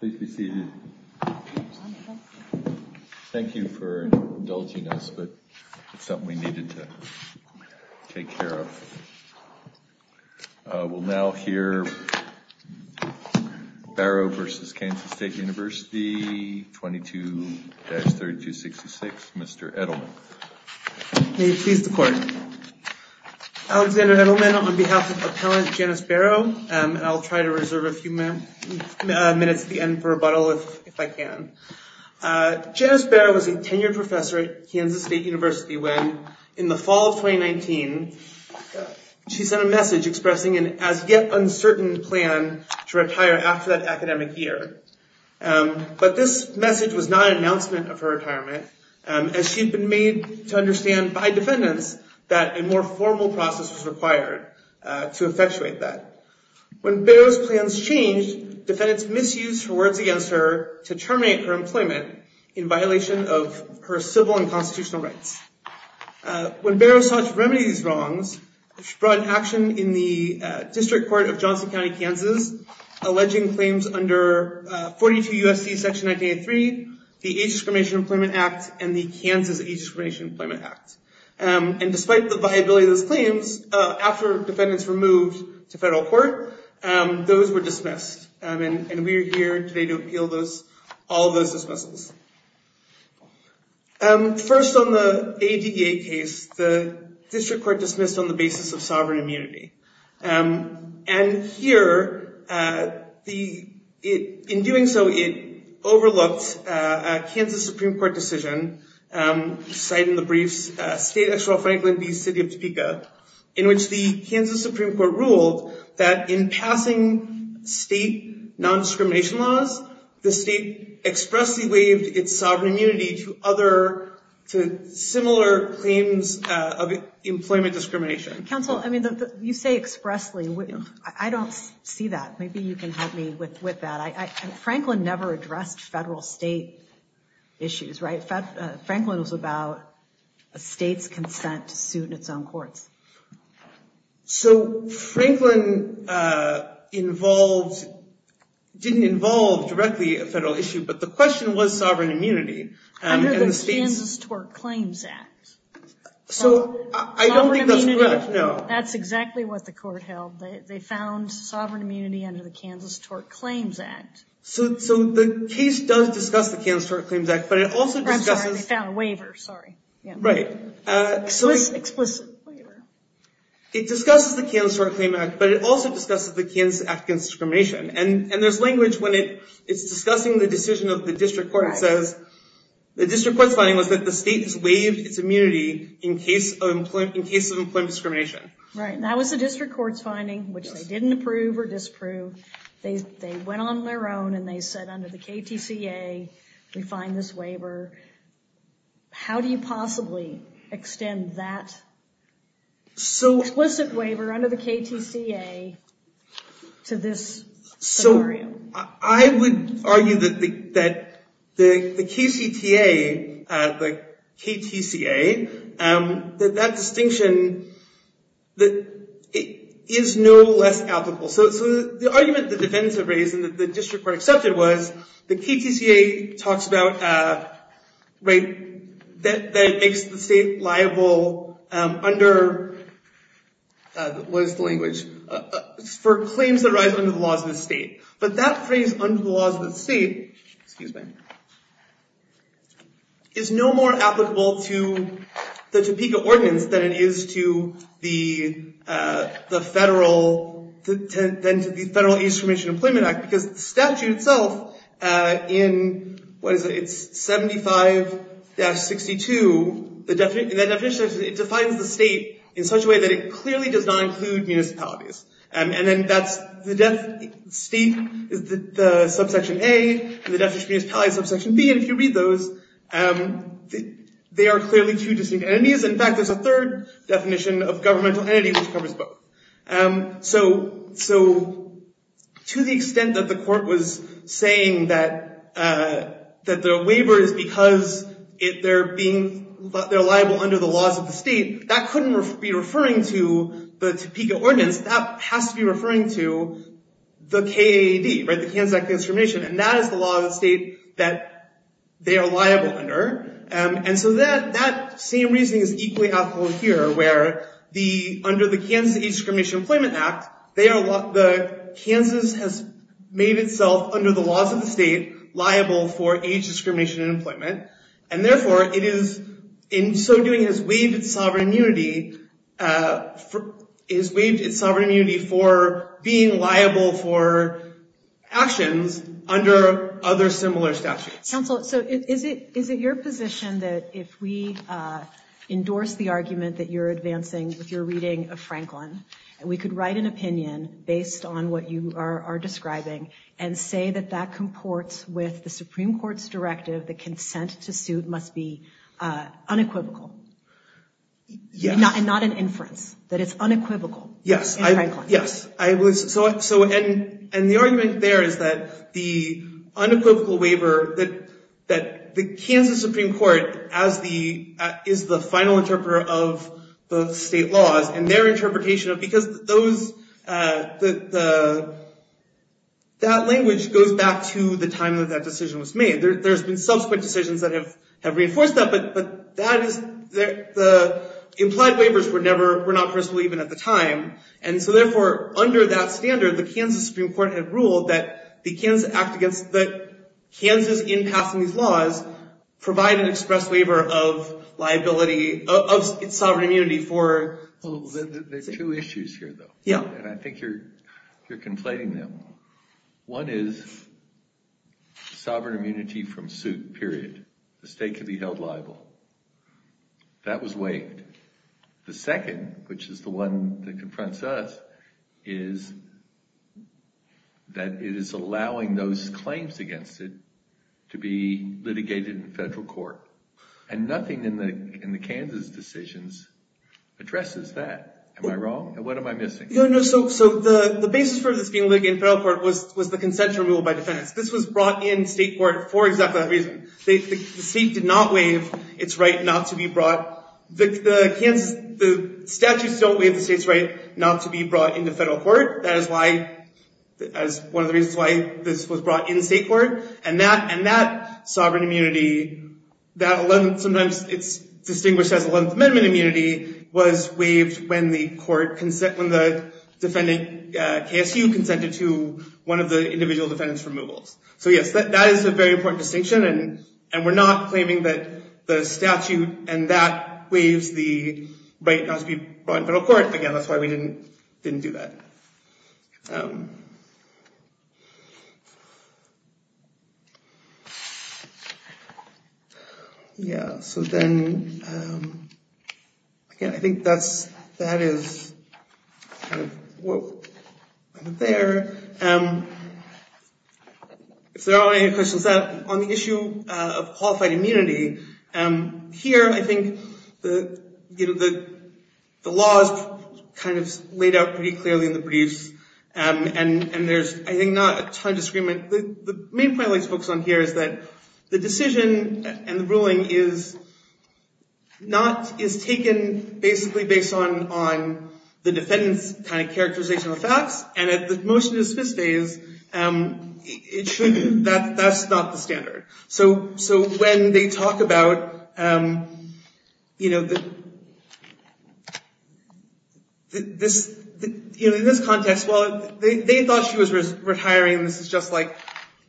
Please be seated. Thank you for indulging us, but it's something we needed to take care of. We'll now hear Barrow v. Kansas State University, 22-3266, Mr. Edelman. May it please the Court. Alexander Edelman, on behalf of Appellant Janice Barrow, and I'll try to reserve a few minutes at the end for rebuttal if I can. Janice Barrow was a tenured professor at Kansas State University when, in the fall of 2019, she sent a message expressing an as-yet-uncertain plan to retire after that academic year. But this message was not an announcement of her retirement, as she had been made to understand by defendants that a more formal process was required to effectuate that. When Barrow's plans changed, defendants misused her words against her to terminate her employment in violation of her civil and constitutional rights. When Barrow sought to remedy these wrongs, she brought an action in the District Court of Johnson County, Kansas, alleging claims under 42 U.S.C. Section 1983, the Age Discrimination Employment Act, and the Kansas Age Discrimination Employment Act. And despite the viability of those claims, after defendants were moved to federal court, those were dismissed. And we are here today to appeal all those dismissals. First, on the ADA case, the District Court dismissed on the basis of sovereign immunity. And here, in doing so, it overlooked a Kansas Supreme Court decision, cited in the briefs, State Exeral Franklin v. City of Topeka, in which the Kansas Supreme Court ruled that in passing state nondiscrimination laws, the state expressly waived its sovereign immunity to similar claims of employment discrimination. Counsel, I mean, you say expressly, I don't see that. Maybe you can help me with that. Franklin never addressed federal state issues, right? Franklin was about a state's consent to suit in its own courts. So Franklin involved, didn't involve directly a federal issue, but the question was sovereign immunity. Under the Kansas Tort Claims Act. So, I don't think that's correct, no. That's exactly what the court held. They found sovereign immunity under the Kansas Tort Claims Act. So the case does discuss the Kansas Tort Claims Act, but it also discusses- I'm sorry, they found a waiver, sorry. Right. Explicit waiver. It discusses the Kansas Tort Claims Act, but it also discusses the Kansas Act against discrimination. The district court's finding was that the state has waived its immunity in case of employment discrimination. Right, and that was the district court's finding, which they didn't approve or disapprove. They went on their own and they said under the KTCA, we find this waiver. How do you possibly extend that explicit waiver under the KTCA to this scenario? I would argue that the KCTA, the KTCA, that that distinction is no less applicable. So the argument the defendants have raised and the district court accepted was the KTCA talks about, right, that it makes the state liable under, what is the language, for claims that arise under the laws of the state. But that phrase under the laws of the state, excuse me, is no more applicable to the Topeka ordinance than it is to the federal, than to the federal age discrimination employment act because the statute itself in, what is it, it's 75-62. The definition, it defines the state in such a way that it clearly does not include municipalities. And then that's the definition, state is the subsection A, and the definition of municipality is subsection B. And if you read those, they are clearly two distinct entities. In fact, there's a third definition of governmental entity which covers both. So to the extent that the court was saying that the waiver is because they're being, they're liable under the laws of the state, that couldn't be referring to the Topeka ordinance. That has to be referring to the KAAD, right, the Kansas Act of Discrimination. And that is the law of the state that they are liable under. And so that same reasoning is equally applicable here where under the Kansas Age Discrimination Employment Act, Kansas has made itself under the laws of the state liable for age discrimination in employment. And therefore, it is in so doing has waived its sovereign immunity for being liable for actions under other similar statutes. Counsel, so is it your position that if we endorse the argument that you're advancing with your reading of Franklin, we could write an opinion based on what you are describing and say that that comports with the Supreme Court's directive, the consent to suit must be unequivocal? Yes. And not an inference, that it's unequivocal in Franklin? Yes. And the argument there is that the unequivocal waiver that the Kansas Supreme Court is the final interpreter of the state laws and their interpretation of, because that language goes back to the time that that decision was made. There's been subsequent decisions that have reinforced that. But that is the implied waivers were not personal even at the time. And so therefore, under that standard, the Kansas Supreme Court had ruled that the Kansas Act against, that Kansas in passing these laws provide an express waiver of liability, of its sovereign immunity for. There are two issues here, though. Yeah. And I think you're conflating them. One is sovereign immunity from suit, period. The state could be held liable. That was waived. The second, which is the one that confronts us, is that it is allowing those claims against it to be litigated in federal court. And nothing in the Kansas decisions addresses that. Am I wrong? And what am I missing? So the basis for this being litigated in federal court was the consensual rule by defendants. This was brought in state court for exactly that reason. The state did not waive its right not to be brought. The statutes don't waive the state's right not to be brought into federal court. That is one of the reasons why this was brought in state court. And that sovereign immunity, sometimes it's distinguished as 11th Amendment immunity, was waived when the defendant, KSU, consented to one of the individual defendants' removals. So yes, that is a very important distinction. And we're not claiming that the statute and that waives the right not to be brought in federal court. Again, that's why we didn't do that. Yeah. So then, again, I think that is kind of what went there. If there are any questions on the issue of qualified immunity, here I think the law is kind of laid out pretty clearly in the briefs. And there's, I think, not a ton of discrepancy. The main point I'd like to focus on here is that the decision and the ruling is taken basically based on the defendant's kind of characterization of the facts. And if the motion is specific, it shouldn't. That's not the standard. So when they talk about, you know, in this context, well, they thought she was retiring, and this is just like,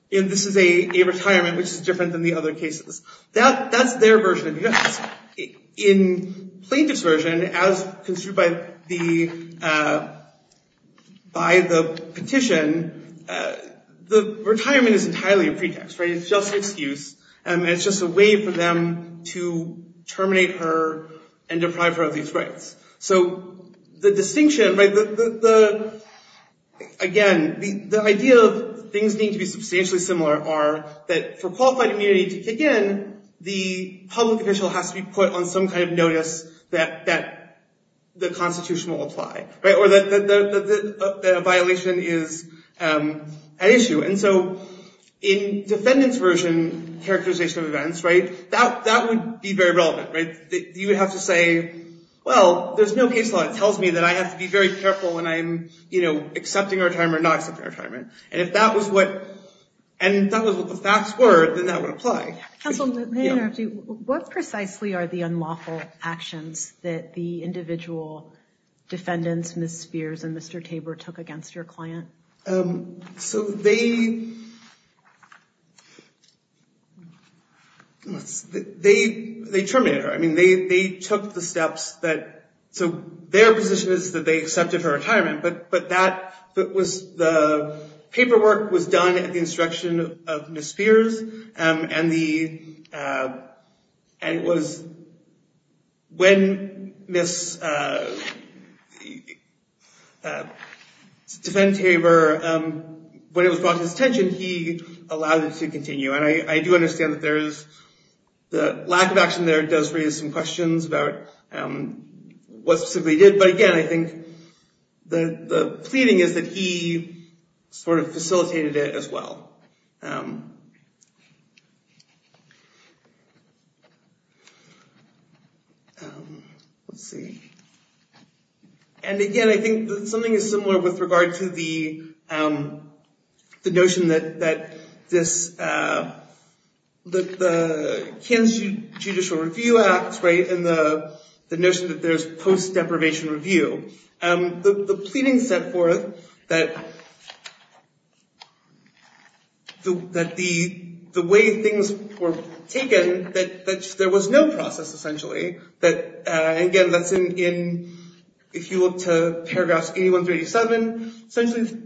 you know, this is a retirement, which is different than the other cases. That's their version of it. In plaintiff's version, as construed by the petition, the retirement is entirely a pretext, right? It's just an excuse. It's just a way for them to terminate her and deprive her of these rights. So the distinction, right, again, the idea of things need to be substantially similar are that for qualified immunity to kick in, the public official has to be put on some kind of notice that the Constitution will apply, right? Or that a violation is an issue. And so in defendant's version characterization of events, right, that would be very relevant, right? You would have to say, well, there's no case law that tells me that I have to be very careful when I'm, you know, accepting retirement or not accepting retirement. And if that was what the facts were, then that would apply. Counsel, may I interrupt you? What precisely are the unlawful actions that the individual defendants, Ms. Spears and Mr. Tabor, took against your client? So they terminated her. I mean, they took the steps that, so their position is that they accepted her retirement. But that was the paperwork was done at the instruction of Ms. Spears. And it was when Ms. defendant Tabor, when it was brought to his attention, he allowed it to continue. And I do understand that there is the lack of action there does raise some questions about what specifically did. But again, I think the pleading is that he sort of facilitated it as well. Let's see. And again, I think something is similar with regard to the notion that this, that the Kansas Judicial Review Act, right? And the notion that there's post deprivation review. The pleading set forth that the way things were taken, that there was no process, essentially. That, again, that's in, if you look to paragraphs 8137, essentially,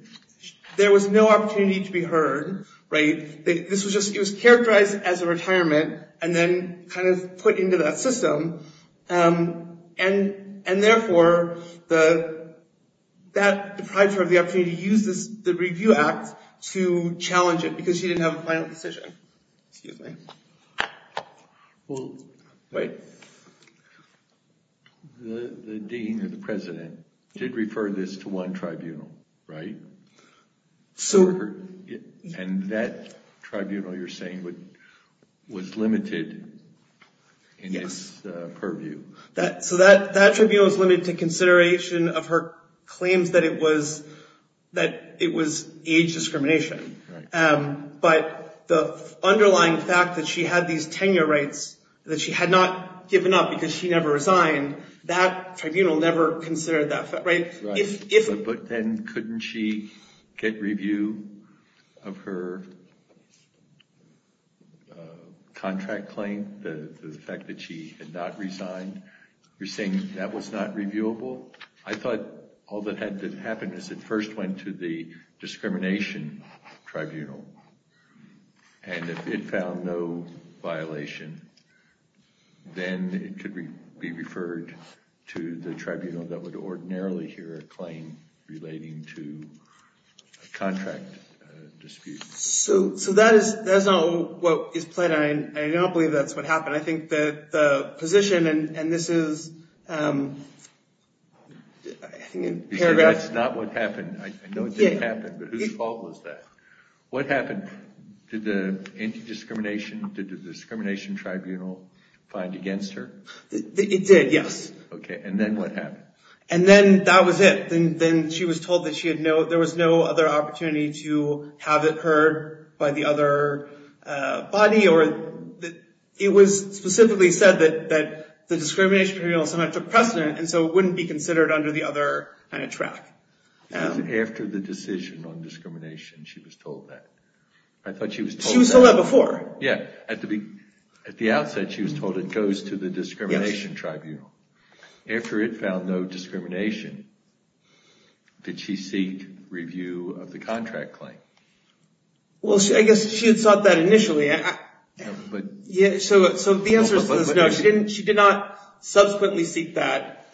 there was no opportunity to be heard. Right? This was just, it was characterized as a retirement and then kind of put into that system. And, and therefore, the, that deprived her of the opportunity to use this, the review act to challenge it because she didn't have a final decision. Excuse me. Well, wait. The dean of the president did refer this to one tribunal, right? So. And that tribunal, you're saying, was limited in its purview. So that tribunal was limited to consideration of her claims that it was, that it was age discrimination. But the underlying fact that she had these tenure rights, that she had not given up because she never resigned, that tribunal never considered that. But then couldn't she get review of her contract claim, the fact that she had not resigned? You're saying that was not reviewable? I thought all that had to happen is it first went to the discrimination tribunal. And if it found no violation, then it could be referred to the tribunal that would ordinarily hear a claim relating to a contract dispute. So, so that is, that is not what is planned. I don't believe that's what happened. I think that the position, and this is, I think in paragraph. That's not what happened. I know it didn't happen, but whose fault was that? What happened? Did the anti-discrimination, did the discrimination tribunal find against her? It did, yes. Okay. And then what happened? And then that was it. Then she was told that she had no, there was no other opportunity to have it heard by the other body. It was specifically said that the discrimination tribunal sometimes took precedent, and so it wouldn't be considered under the other track. After the decision on discrimination, she was told that. I thought she was told that. She was told that before. Yeah. At the outset, she was told it goes to the discrimination tribunal. After it found no discrimination, did she seek review of the contract claim? Well, I guess she had sought that initially. So the answer is no. She did not subsequently seek that.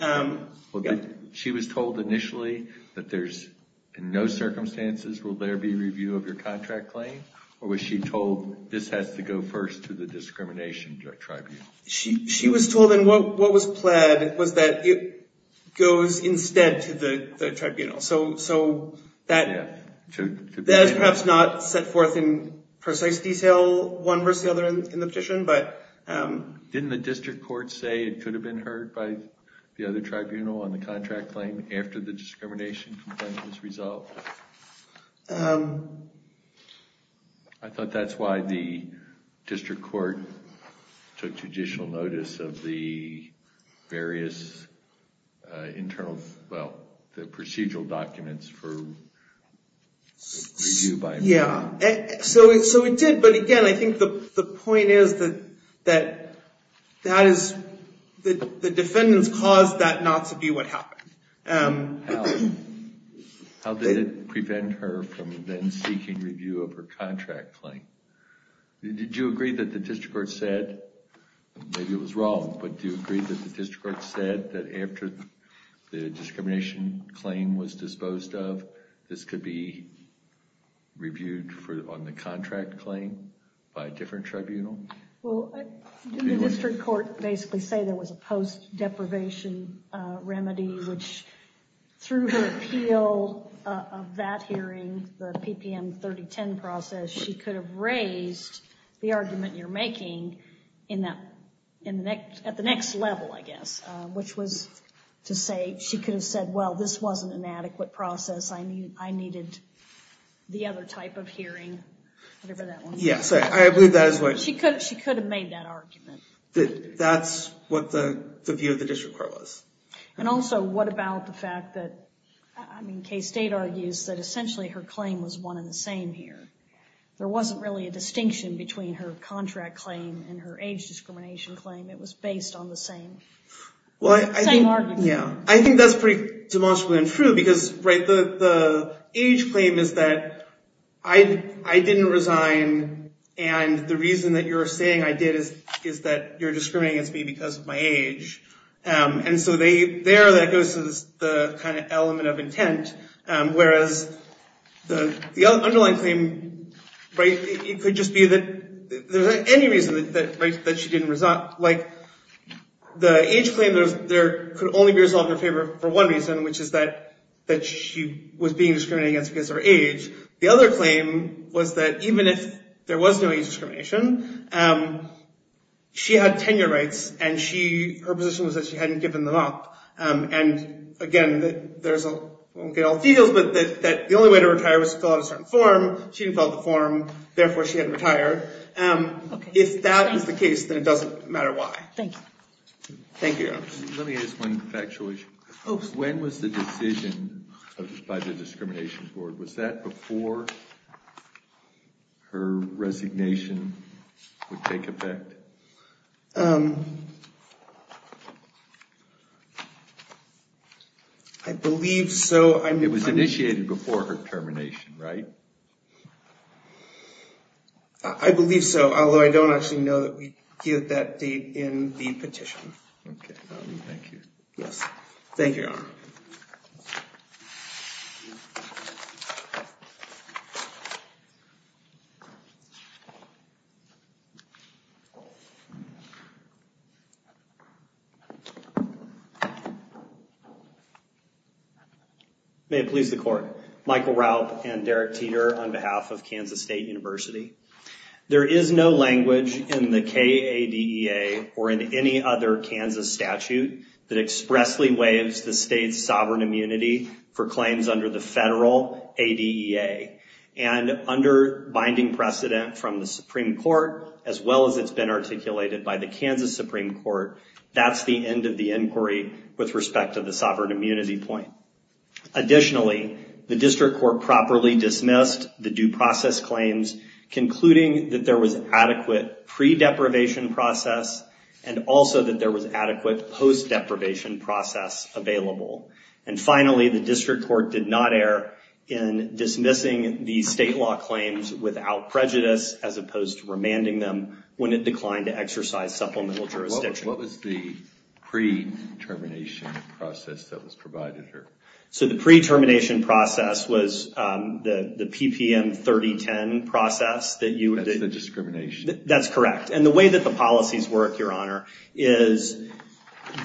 She was told initially that there's, in no circumstances will there be review of your contract claim? Or was she told this has to go first to the discrimination tribunal? She was told, and what was pled was that it goes instead to the tribunal. So that is perhaps not set forth in precise detail, one versus the other in the petition, but. Didn't the district court say it could have been heard by the other tribunal on the contract claim after the discrimination complaint was resolved? I thought that's why the district court took judicial notice of the various internal, well, the procedural documents for review by. Yeah. So it did. But again, I think the point is that the defendants caused that not to be what happened. How did it prevent her from then seeking review of her contract claim? Did you agree that the district court said, maybe it was wrong, but do you agree that the district court said that after the discrimination claim was disposed of, this could be reviewed on the contract claim by a different tribunal? Well, didn't the district court basically say there was a post-deprivation remedy, which through her appeal of that hearing, the PPM 3010 process, she could have raised the argument you're making at the next level, I guess. Which was to say, she could have said, well, this wasn't an adequate process. I needed the other type of hearing. Yeah. She could have made that argument. That's what the view of the district court was. And also, what about the fact that, I mean, Kaye State argues that essentially her claim was one and the same here. There wasn't really a distinction between her contract claim and her age discrimination claim. It was based on the same argument. Yeah. I think that's pretty demonstrably untrue, because the age claim is that I didn't resign, and the reason that you're saying I did is that you're discriminating against me because of my age. And so there, that goes to the element of intent. Whereas the underlying claim, it could just be that there's any reason that she didn't resign. Like, the age claim, there could only be resolved in her favor for one reason, which is that she was being discriminated against because of her age. The other claim was that even if there was no age discrimination, she had tenure rights, and her position was that she hadn't given them up. And again, we won't get all the details, but that the only way to retire was to fill out a certain form. She didn't fill out the form. Therefore, she had to retire. If that is the case, then it doesn't matter why. Thank you. Thank you. Let me ask one factual issue. When was the decision by the discrimination board? Was that before her resignation would take effect? I believe so. It was initiated before her termination, right? I believe so, although I don't actually know that we give that date in the petition. OK. Yes. Thank you, Your Honor. May it please the court. Michael Raup and Derek Teeter on behalf of Kansas State University. There is no language in the KADEA or in any other Kansas statute that expressly waives the state's sovereign immunity for claims under the federal ADEA. And under binding precedent from the Supreme Court, as well as it's been articulated by the Kansas Supreme Court, that's the end of the inquiry with respect to the sovereign immunity point. Additionally, the district court properly dismissed the due process claims, concluding that there was adequate pre-deprivation process and also that there was adequate post-deprivation process available. And finally, the district court did not err in dismissing the state law claims without prejudice, as opposed to remanding them when it declined to exercise supplemental jurisdiction. What was the pre-termination process that was provided to her? So the pre-termination process was the PPM 3010 process that you... That's the discrimination. That's correct. And the way that the policies work, Your Honor, is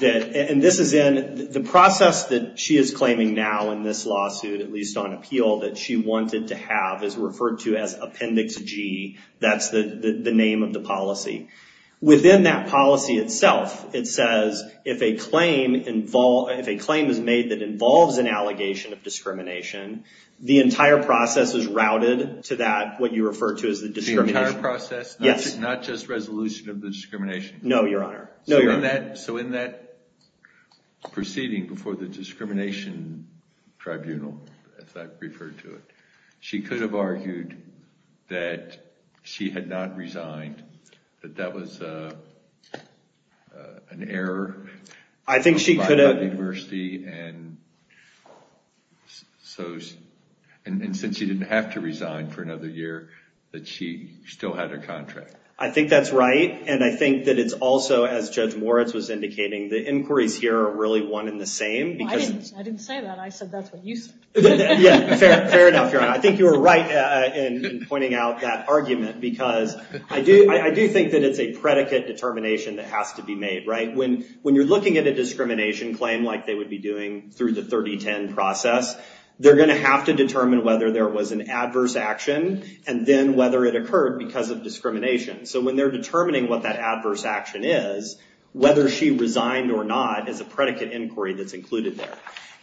that... And this is in... The process that she is claiming now in this lawsuit, at least on appeal, that she wanted to have is referred to as Appendix G. That's the name of the policy. Within that policy itself, it says if a claim is made that involves an allegation of discrimination, the entire process is routed to that, what you refer to as the discrimination. The entire process? Yes. Not just resolution of the discrimination? No, Your Honor. So in that proceeding before the discrimination tribunal, as I've referred to it, she could have argued that she had not resigned, that that was an error... I think she could have... ...by the university, and since she didn't have to resign for another year, that she still had her contract. I think that's right, and I think that it's also, as Judge Moritz was indicating, the inquiries here are really one and the same, because... I didn't say that. I said that's what you said. Yeah. Fair enough, Your Honor. I think you were right in pointing out that argument, because I do think that it's a predicate determination that has to be made, right? When you're looking at a discrimination claim like they would be doing through the 3010 process, they're going to have to determine whether there was an adverse action, and then whether it occurred because of discrimination. So when they're determining what that adverse action is, whether she resigned or not is a predicate inquiry that's included there.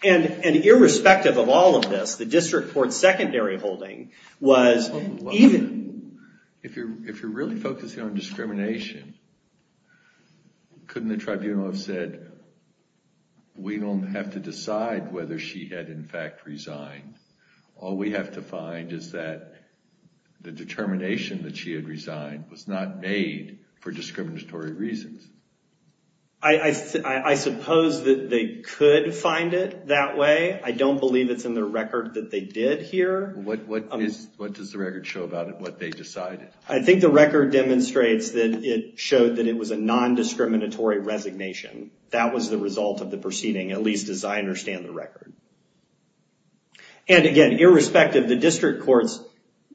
And irrespective of all of this, the district court's secondary holding was even... If you're really focusing on discrimination, couldn't the tribunal have said, we don't have to decide whether she had, in fact, resigned? All we have to find is that the determination that she had resigned was not made for discriminatory reasons. I suppose that they could find it that way. I don't believe it's in the record that they did here. What does the record show about it, what they decided? I think the record demonstrates that it showed that it was a non-discriminatory resignation. That was the result of the proceeding, at least as I understand the record. And again, irrespective, the district court's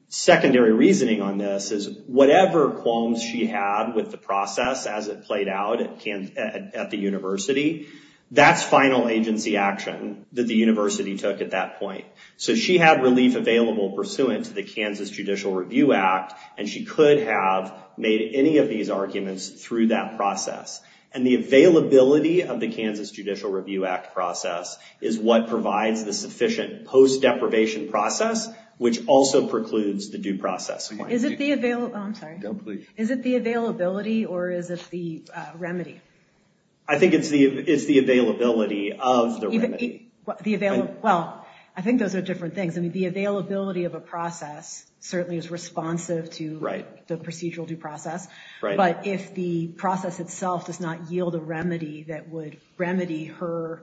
secondary reasoning on this is whatever qualms she had with the process as it played out at the university, that's final agency action that the university took at that point. So she had relief available pursuant to the Kansas Judicial Review Act, and she could have made any of these arguments through that process. And the availability of the Kansas Judicial Review Act process is what provides the sufficient post-deprivation process, which also precludes the due process. Is it the availability, or is it the remedy? I think it's the availability of the remedy. Well, I think those are different things. I mean, the availability of a process certainly is responsive to the procedural due process. But if the process itself does not yield a remedy that would remedy her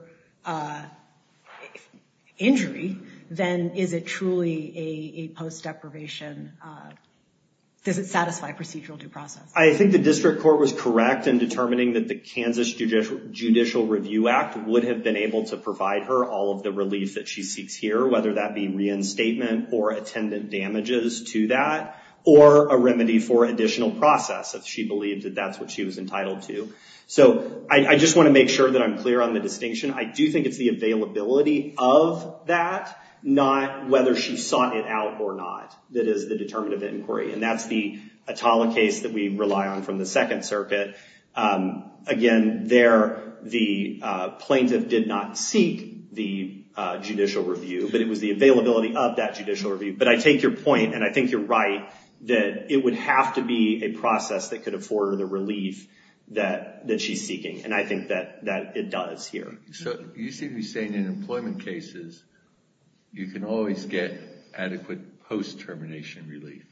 injury, then is it truly a post-deprivation, does it satisfy procedural due process? I think the district court was correct in determining that the Kansas Judicial Review Act would have been able to provide her all of the relief that she seeks here, whether that be reinstatement or attendant damages to that, or a remedy for additional process if she believed that that's what she was entitled to. So I just want to make sure that I'm clear on the distinction. I do think it's the availability of that, not whether she sought it out or not, that is the determinative inquiry. And that's the Atala case that we rely on from the Second Circuit. Again, there, the plaintiff did not seek the judicial review, but it was the availability of that judicial review. But I take your point, and I think you're right, that it would have to be a process that could afford her the relief that she's seeking. And I think that it does here. So you seem to be saying in employment cases, you can always get adequate post-termination relief,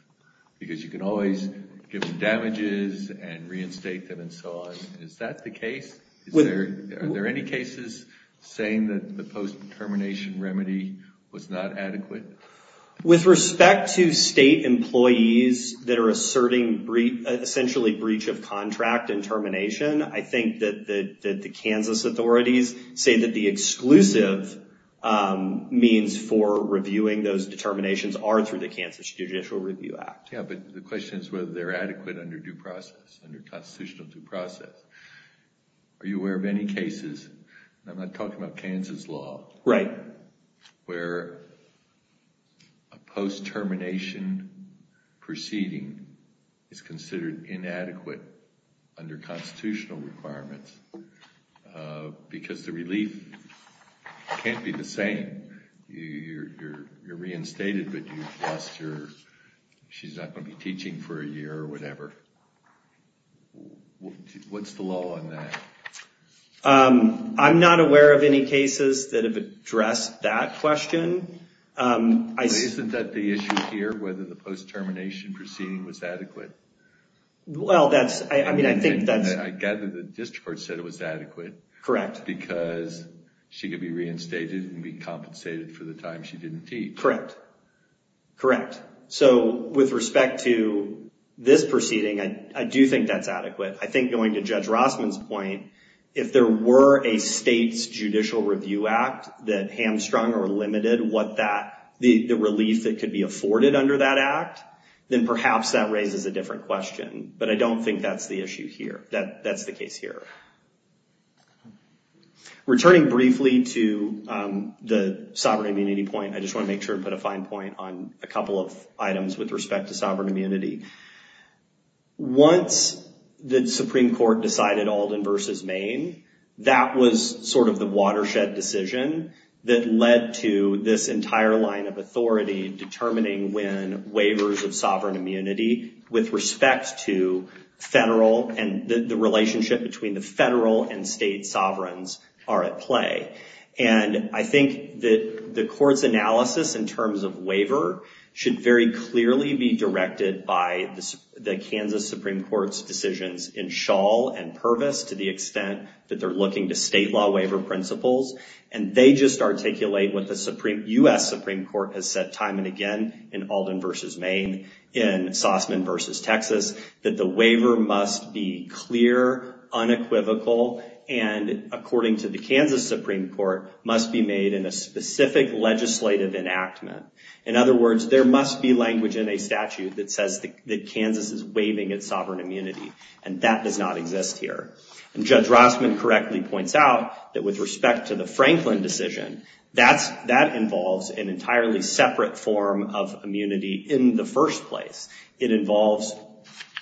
because you can always give them damages and reinstate them and so on. Is that the case? Are there any cases saying that the post-termination remedy was not adequate? With respect to state employees that are asserting essentially breach of contract and termination, I think that the Kansas authorities say that the exclusive means for reviewing those determinations are through the Kansas Judicial Review Act. Yeah, but the question is whether they're adequate under due process, under constitutional due process. Are you aware of any cases, and I'm not talking about Kansas law, where a post-termination proceeding is considered inadequate under constitutional requirements because the relief can't be the same? You're reinstated, but she's not going to be teaching for a year or whatever. What's the law on that? I'm not aware of any cases that have addressed that question. Isn't that the issue here, whether the post-termination proceeding was adequate? Well, that's – I mean, I think that's – I gather the district court said it was adequate. Correct. Because she could be reinstated and be compensated for the time she didn't teach. Correct. Correct. So with respect to this proceeding, I do think that's adequate. I think going to Judge Rossman's point, if there were a state's judicial review act that hamstrung or limited what that – the relief that could be afforded under that act, then perhaps that raises a different question. But I don't think that's the issue here. That's the case here. Returning briefly to the sovereign immunity point, I just want to make sure and put a fine point on a couple of items with respect to sovereign immunity. Once the Supreme Court decided Alden versus Maine, that was sort of the watershed decision that led to this entire line of authority determining when waivers of sovereign immunity with respect to federal – and the relationship between the federal and state sovereigns are at play. And I think that the court's analysis in terms of waiver should very clearly be directed by the Kansas Supreme Court's decisions in Shawl and Purvis to the extent that they're looking to state law waiver principles. And they just articulate what the U.S. Supreme Court has said time and again in Alden versus Maine, in Sausman versus Texas, that the waiver must be clear, unequivocal. And according to the Kansas Supreme Court, must be made in a specific legislative enactment. In other words, there must be language in a statute that says that Kansas is waiving its sovereign immunity. And that does not exist here. And Judge Rossman correctly points out that with respect to the Franklin decision, that involves an entirely separate form of immunity in the first place. It involves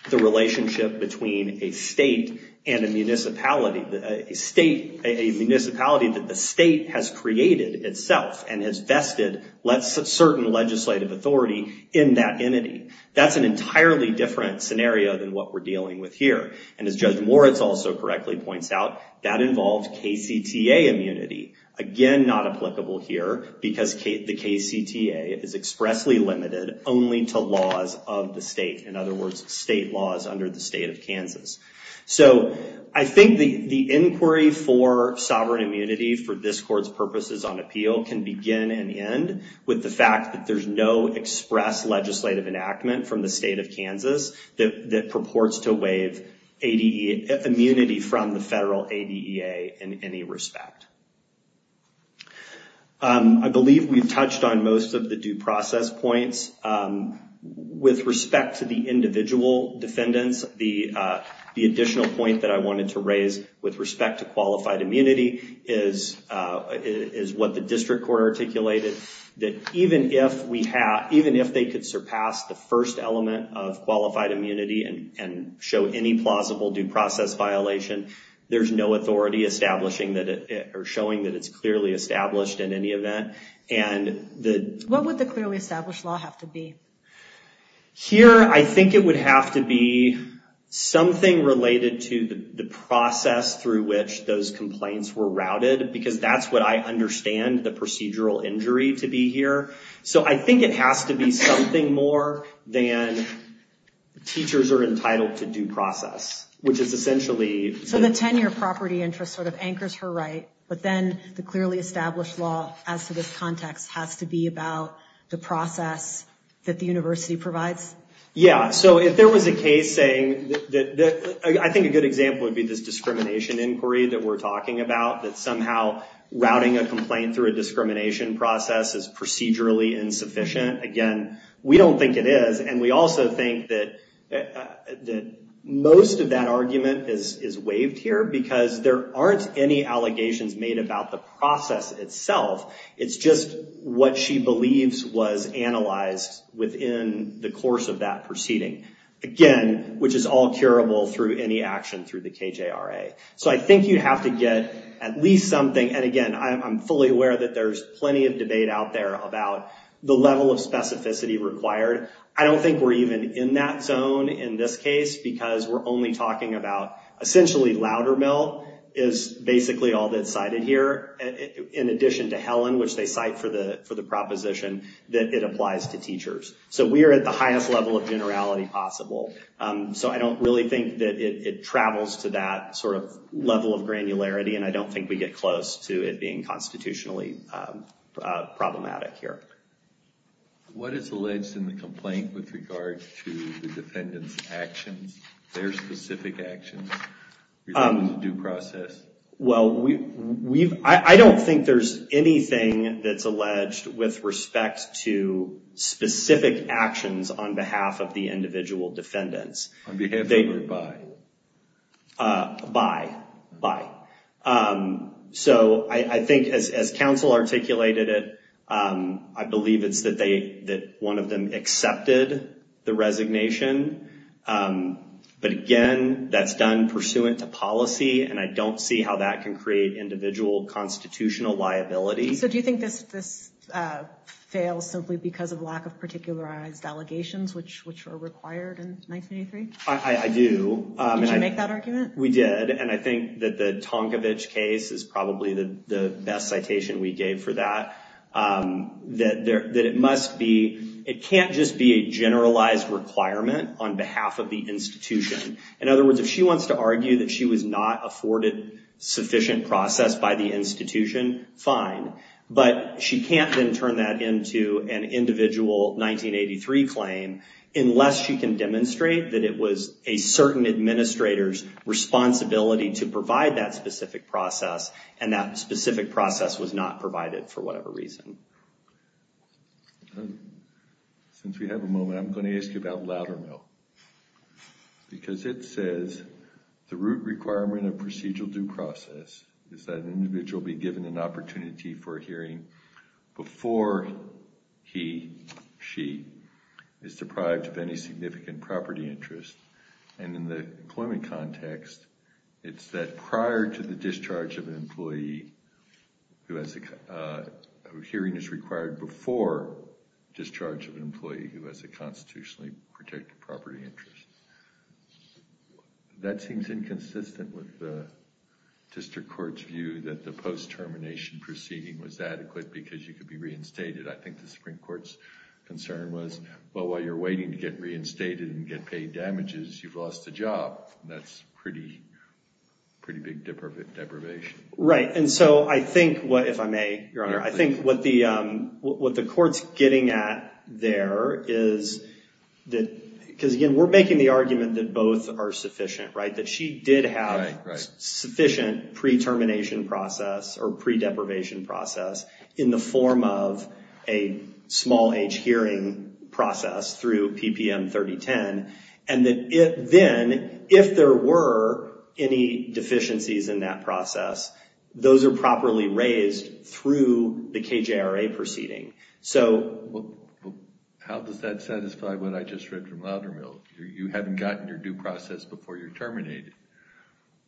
the relationship between a state and a municipality. A municipality that the state has created itself and has vested certain legislative authority in that entity. That's an entirely different scenario than what we're dealing with here. And as Judge Moritz also correctly points out, that involves KCTA immunity. Again, not applicable here because the KCTA is expressly limited only to laws of the state. In other words, state laws under the state of Kansas. So I think the inquiry for sovereign immunity for this court's purposes on appeal can begin and end with the fact that there's no express legislative enactment from the state of Kansas that purports to waive immunity from the federal ADEA in any respect. I believe we've touched on most of the due process points. With respect to the individual defendants, the additional point that I wanted to raise with respect to qualified immunity is what the district court articulated. That even if they could surpass the first element of qualified immunity and show any plausible due process violation, there's no authority establishing or showing that it's clearly established in any event. What would the clearly established law have to be? Here, I think it would have to be something related to the process through which those complaints were routed because that's what I understand the procedural injury to be here. So I think it has to be something more than teachers are entitled to due process, which is essentially... So the 10-year property interest sort of anchors her right. But then the clearly established law as to this context has to be about the process that the university provides? Yeah. So if there was a case saying that... I think a good example would be this discrimination inquiry that we're talking about, that somehow routing a complaint through a discrimination process is procedurally insufficient. Again, we don't think it is. And we also think that most of that argument is waived here because there aren't any allegations made about the process itself. It's just what she believes was analyzed within the course of that proceeding. Again, which is all curable through any action through the KJRA. So I think you have to get at least something. And again, I'm fully aware that there's plenty of debate out there about the level of specificity required. I don't think we're even in that zone in this case because we're only talking about... Essentially, Loudermill is basically all that's cited here, in addition to Helen, which they cite for the proposition that it applies to teachers. So we're at the highest level of generality possible. So I don't really think that it travels to that sort of level of granularity, and I don't think we get close to it being constitutionally problematic here. What is alleged in the complaint with regard to the defendant's actions? Their specific actions? Do you think it was a due process? Well, I don't think there's anything that's alleged with respect to specific actions on behalf of the individual defendants. On behalf of or by? By. By. So I think as counsel articulated it, I believe it's that one of them accepted the resignation. But again, that's done pursuant to policy, and I don't see how that can create individual constitutional liability. So do you think this fails simply because of lack of particularized allegations, which were required in 1983? I do. Did you make that argument? We did, and I think that the Tonkovich case is probably the best citation we gave for that. That it must be, it can't just be a generalized requirement on behalf of the institution. In other words, if she wants to argue that she was not afforded sufficient process by the institution, fine. But she can't then turn that into an individual 1983 claim unless she can demonstrate that it was a certain administrator's responsibility to provide that specific process, and that specific process was not provided for whatever reason. Since we have a moment, I'm going to ask you about Loudermill. Because it says, the root requirement of procedural due process is that an individual be given an opportunity for a hearing before he, she, is deprived of any significant property interest. And in the employment context, it's that prior to the discharge of an employee, a hearing is required before discharge of an employee who has a constitutionally protected property interest. That seems inconsistent with the district court's view that the post-termination proceeding was adequate because you could be reinstated. I think the Supreme Court's concern was, well, while you're waiting to get reinstated and get paid damages, you've lost a job. That's pretty big deprivation. Right. And so I think, if I may, Your Honor, I think what the court's getting at there is that, because again, we're making the argument that both are sufficient, right? That she did have sufficient pre-termination process or pre-deprivation process in the form of a small age hearing process through PPM 3010. And then, if there were any deficiencies in that process, those are properly raised through the KJRA proceeding. So... How does that satisfy what I just read from Loudermill? You haven't gotten your due process before you're terminated.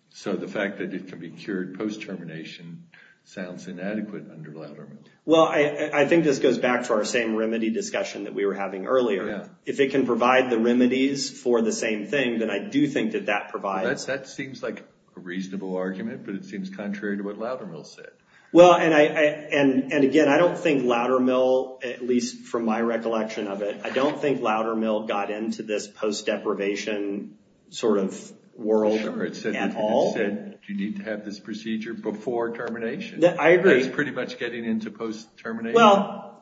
So the fact that it can be cured post-termination sounds inadequate under Loudermill. Well, I think this goes back to our same remedy discussion that we were having earlier. Yeah. If it can provide the remedies for the same thing, then I do think that that provides... That seems like a reasonable argument, but it seems contrary to what Loudermill said. Well, and again, I don't think Loudermill, at least from my recollection of it, I don't think Loudermill got into this post-deprivation sort of world at all. Sure, it said that you need to have this procedure before termination. I agree. That's pretty much getting into post-termination.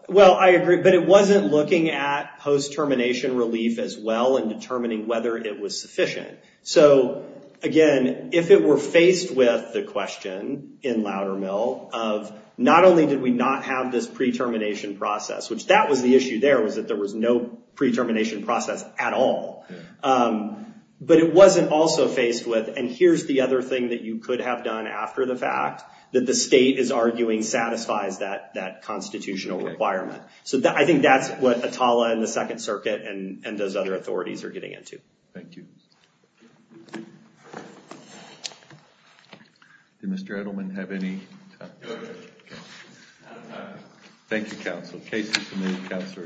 Well, I agree, but it wasn't looking at post-termination relief as well and determining whether it was sufficient. So again, if it were faced with the question in Loudermill of not only did we not have this pre-termination process, which that was the issue there was that there was no pre-termination process at all, but it wasn't also faced with, and here's the other thing that you could have done after the fact, that the state is arguing satisfies that constitutional requirement. So I think that's what Atala and the Second Circuit and those other authorities are getting into. Thank you. Did Mr. Edelman have any? No, sir. Thank you, counsel. Case is submitted. Counsel are excused.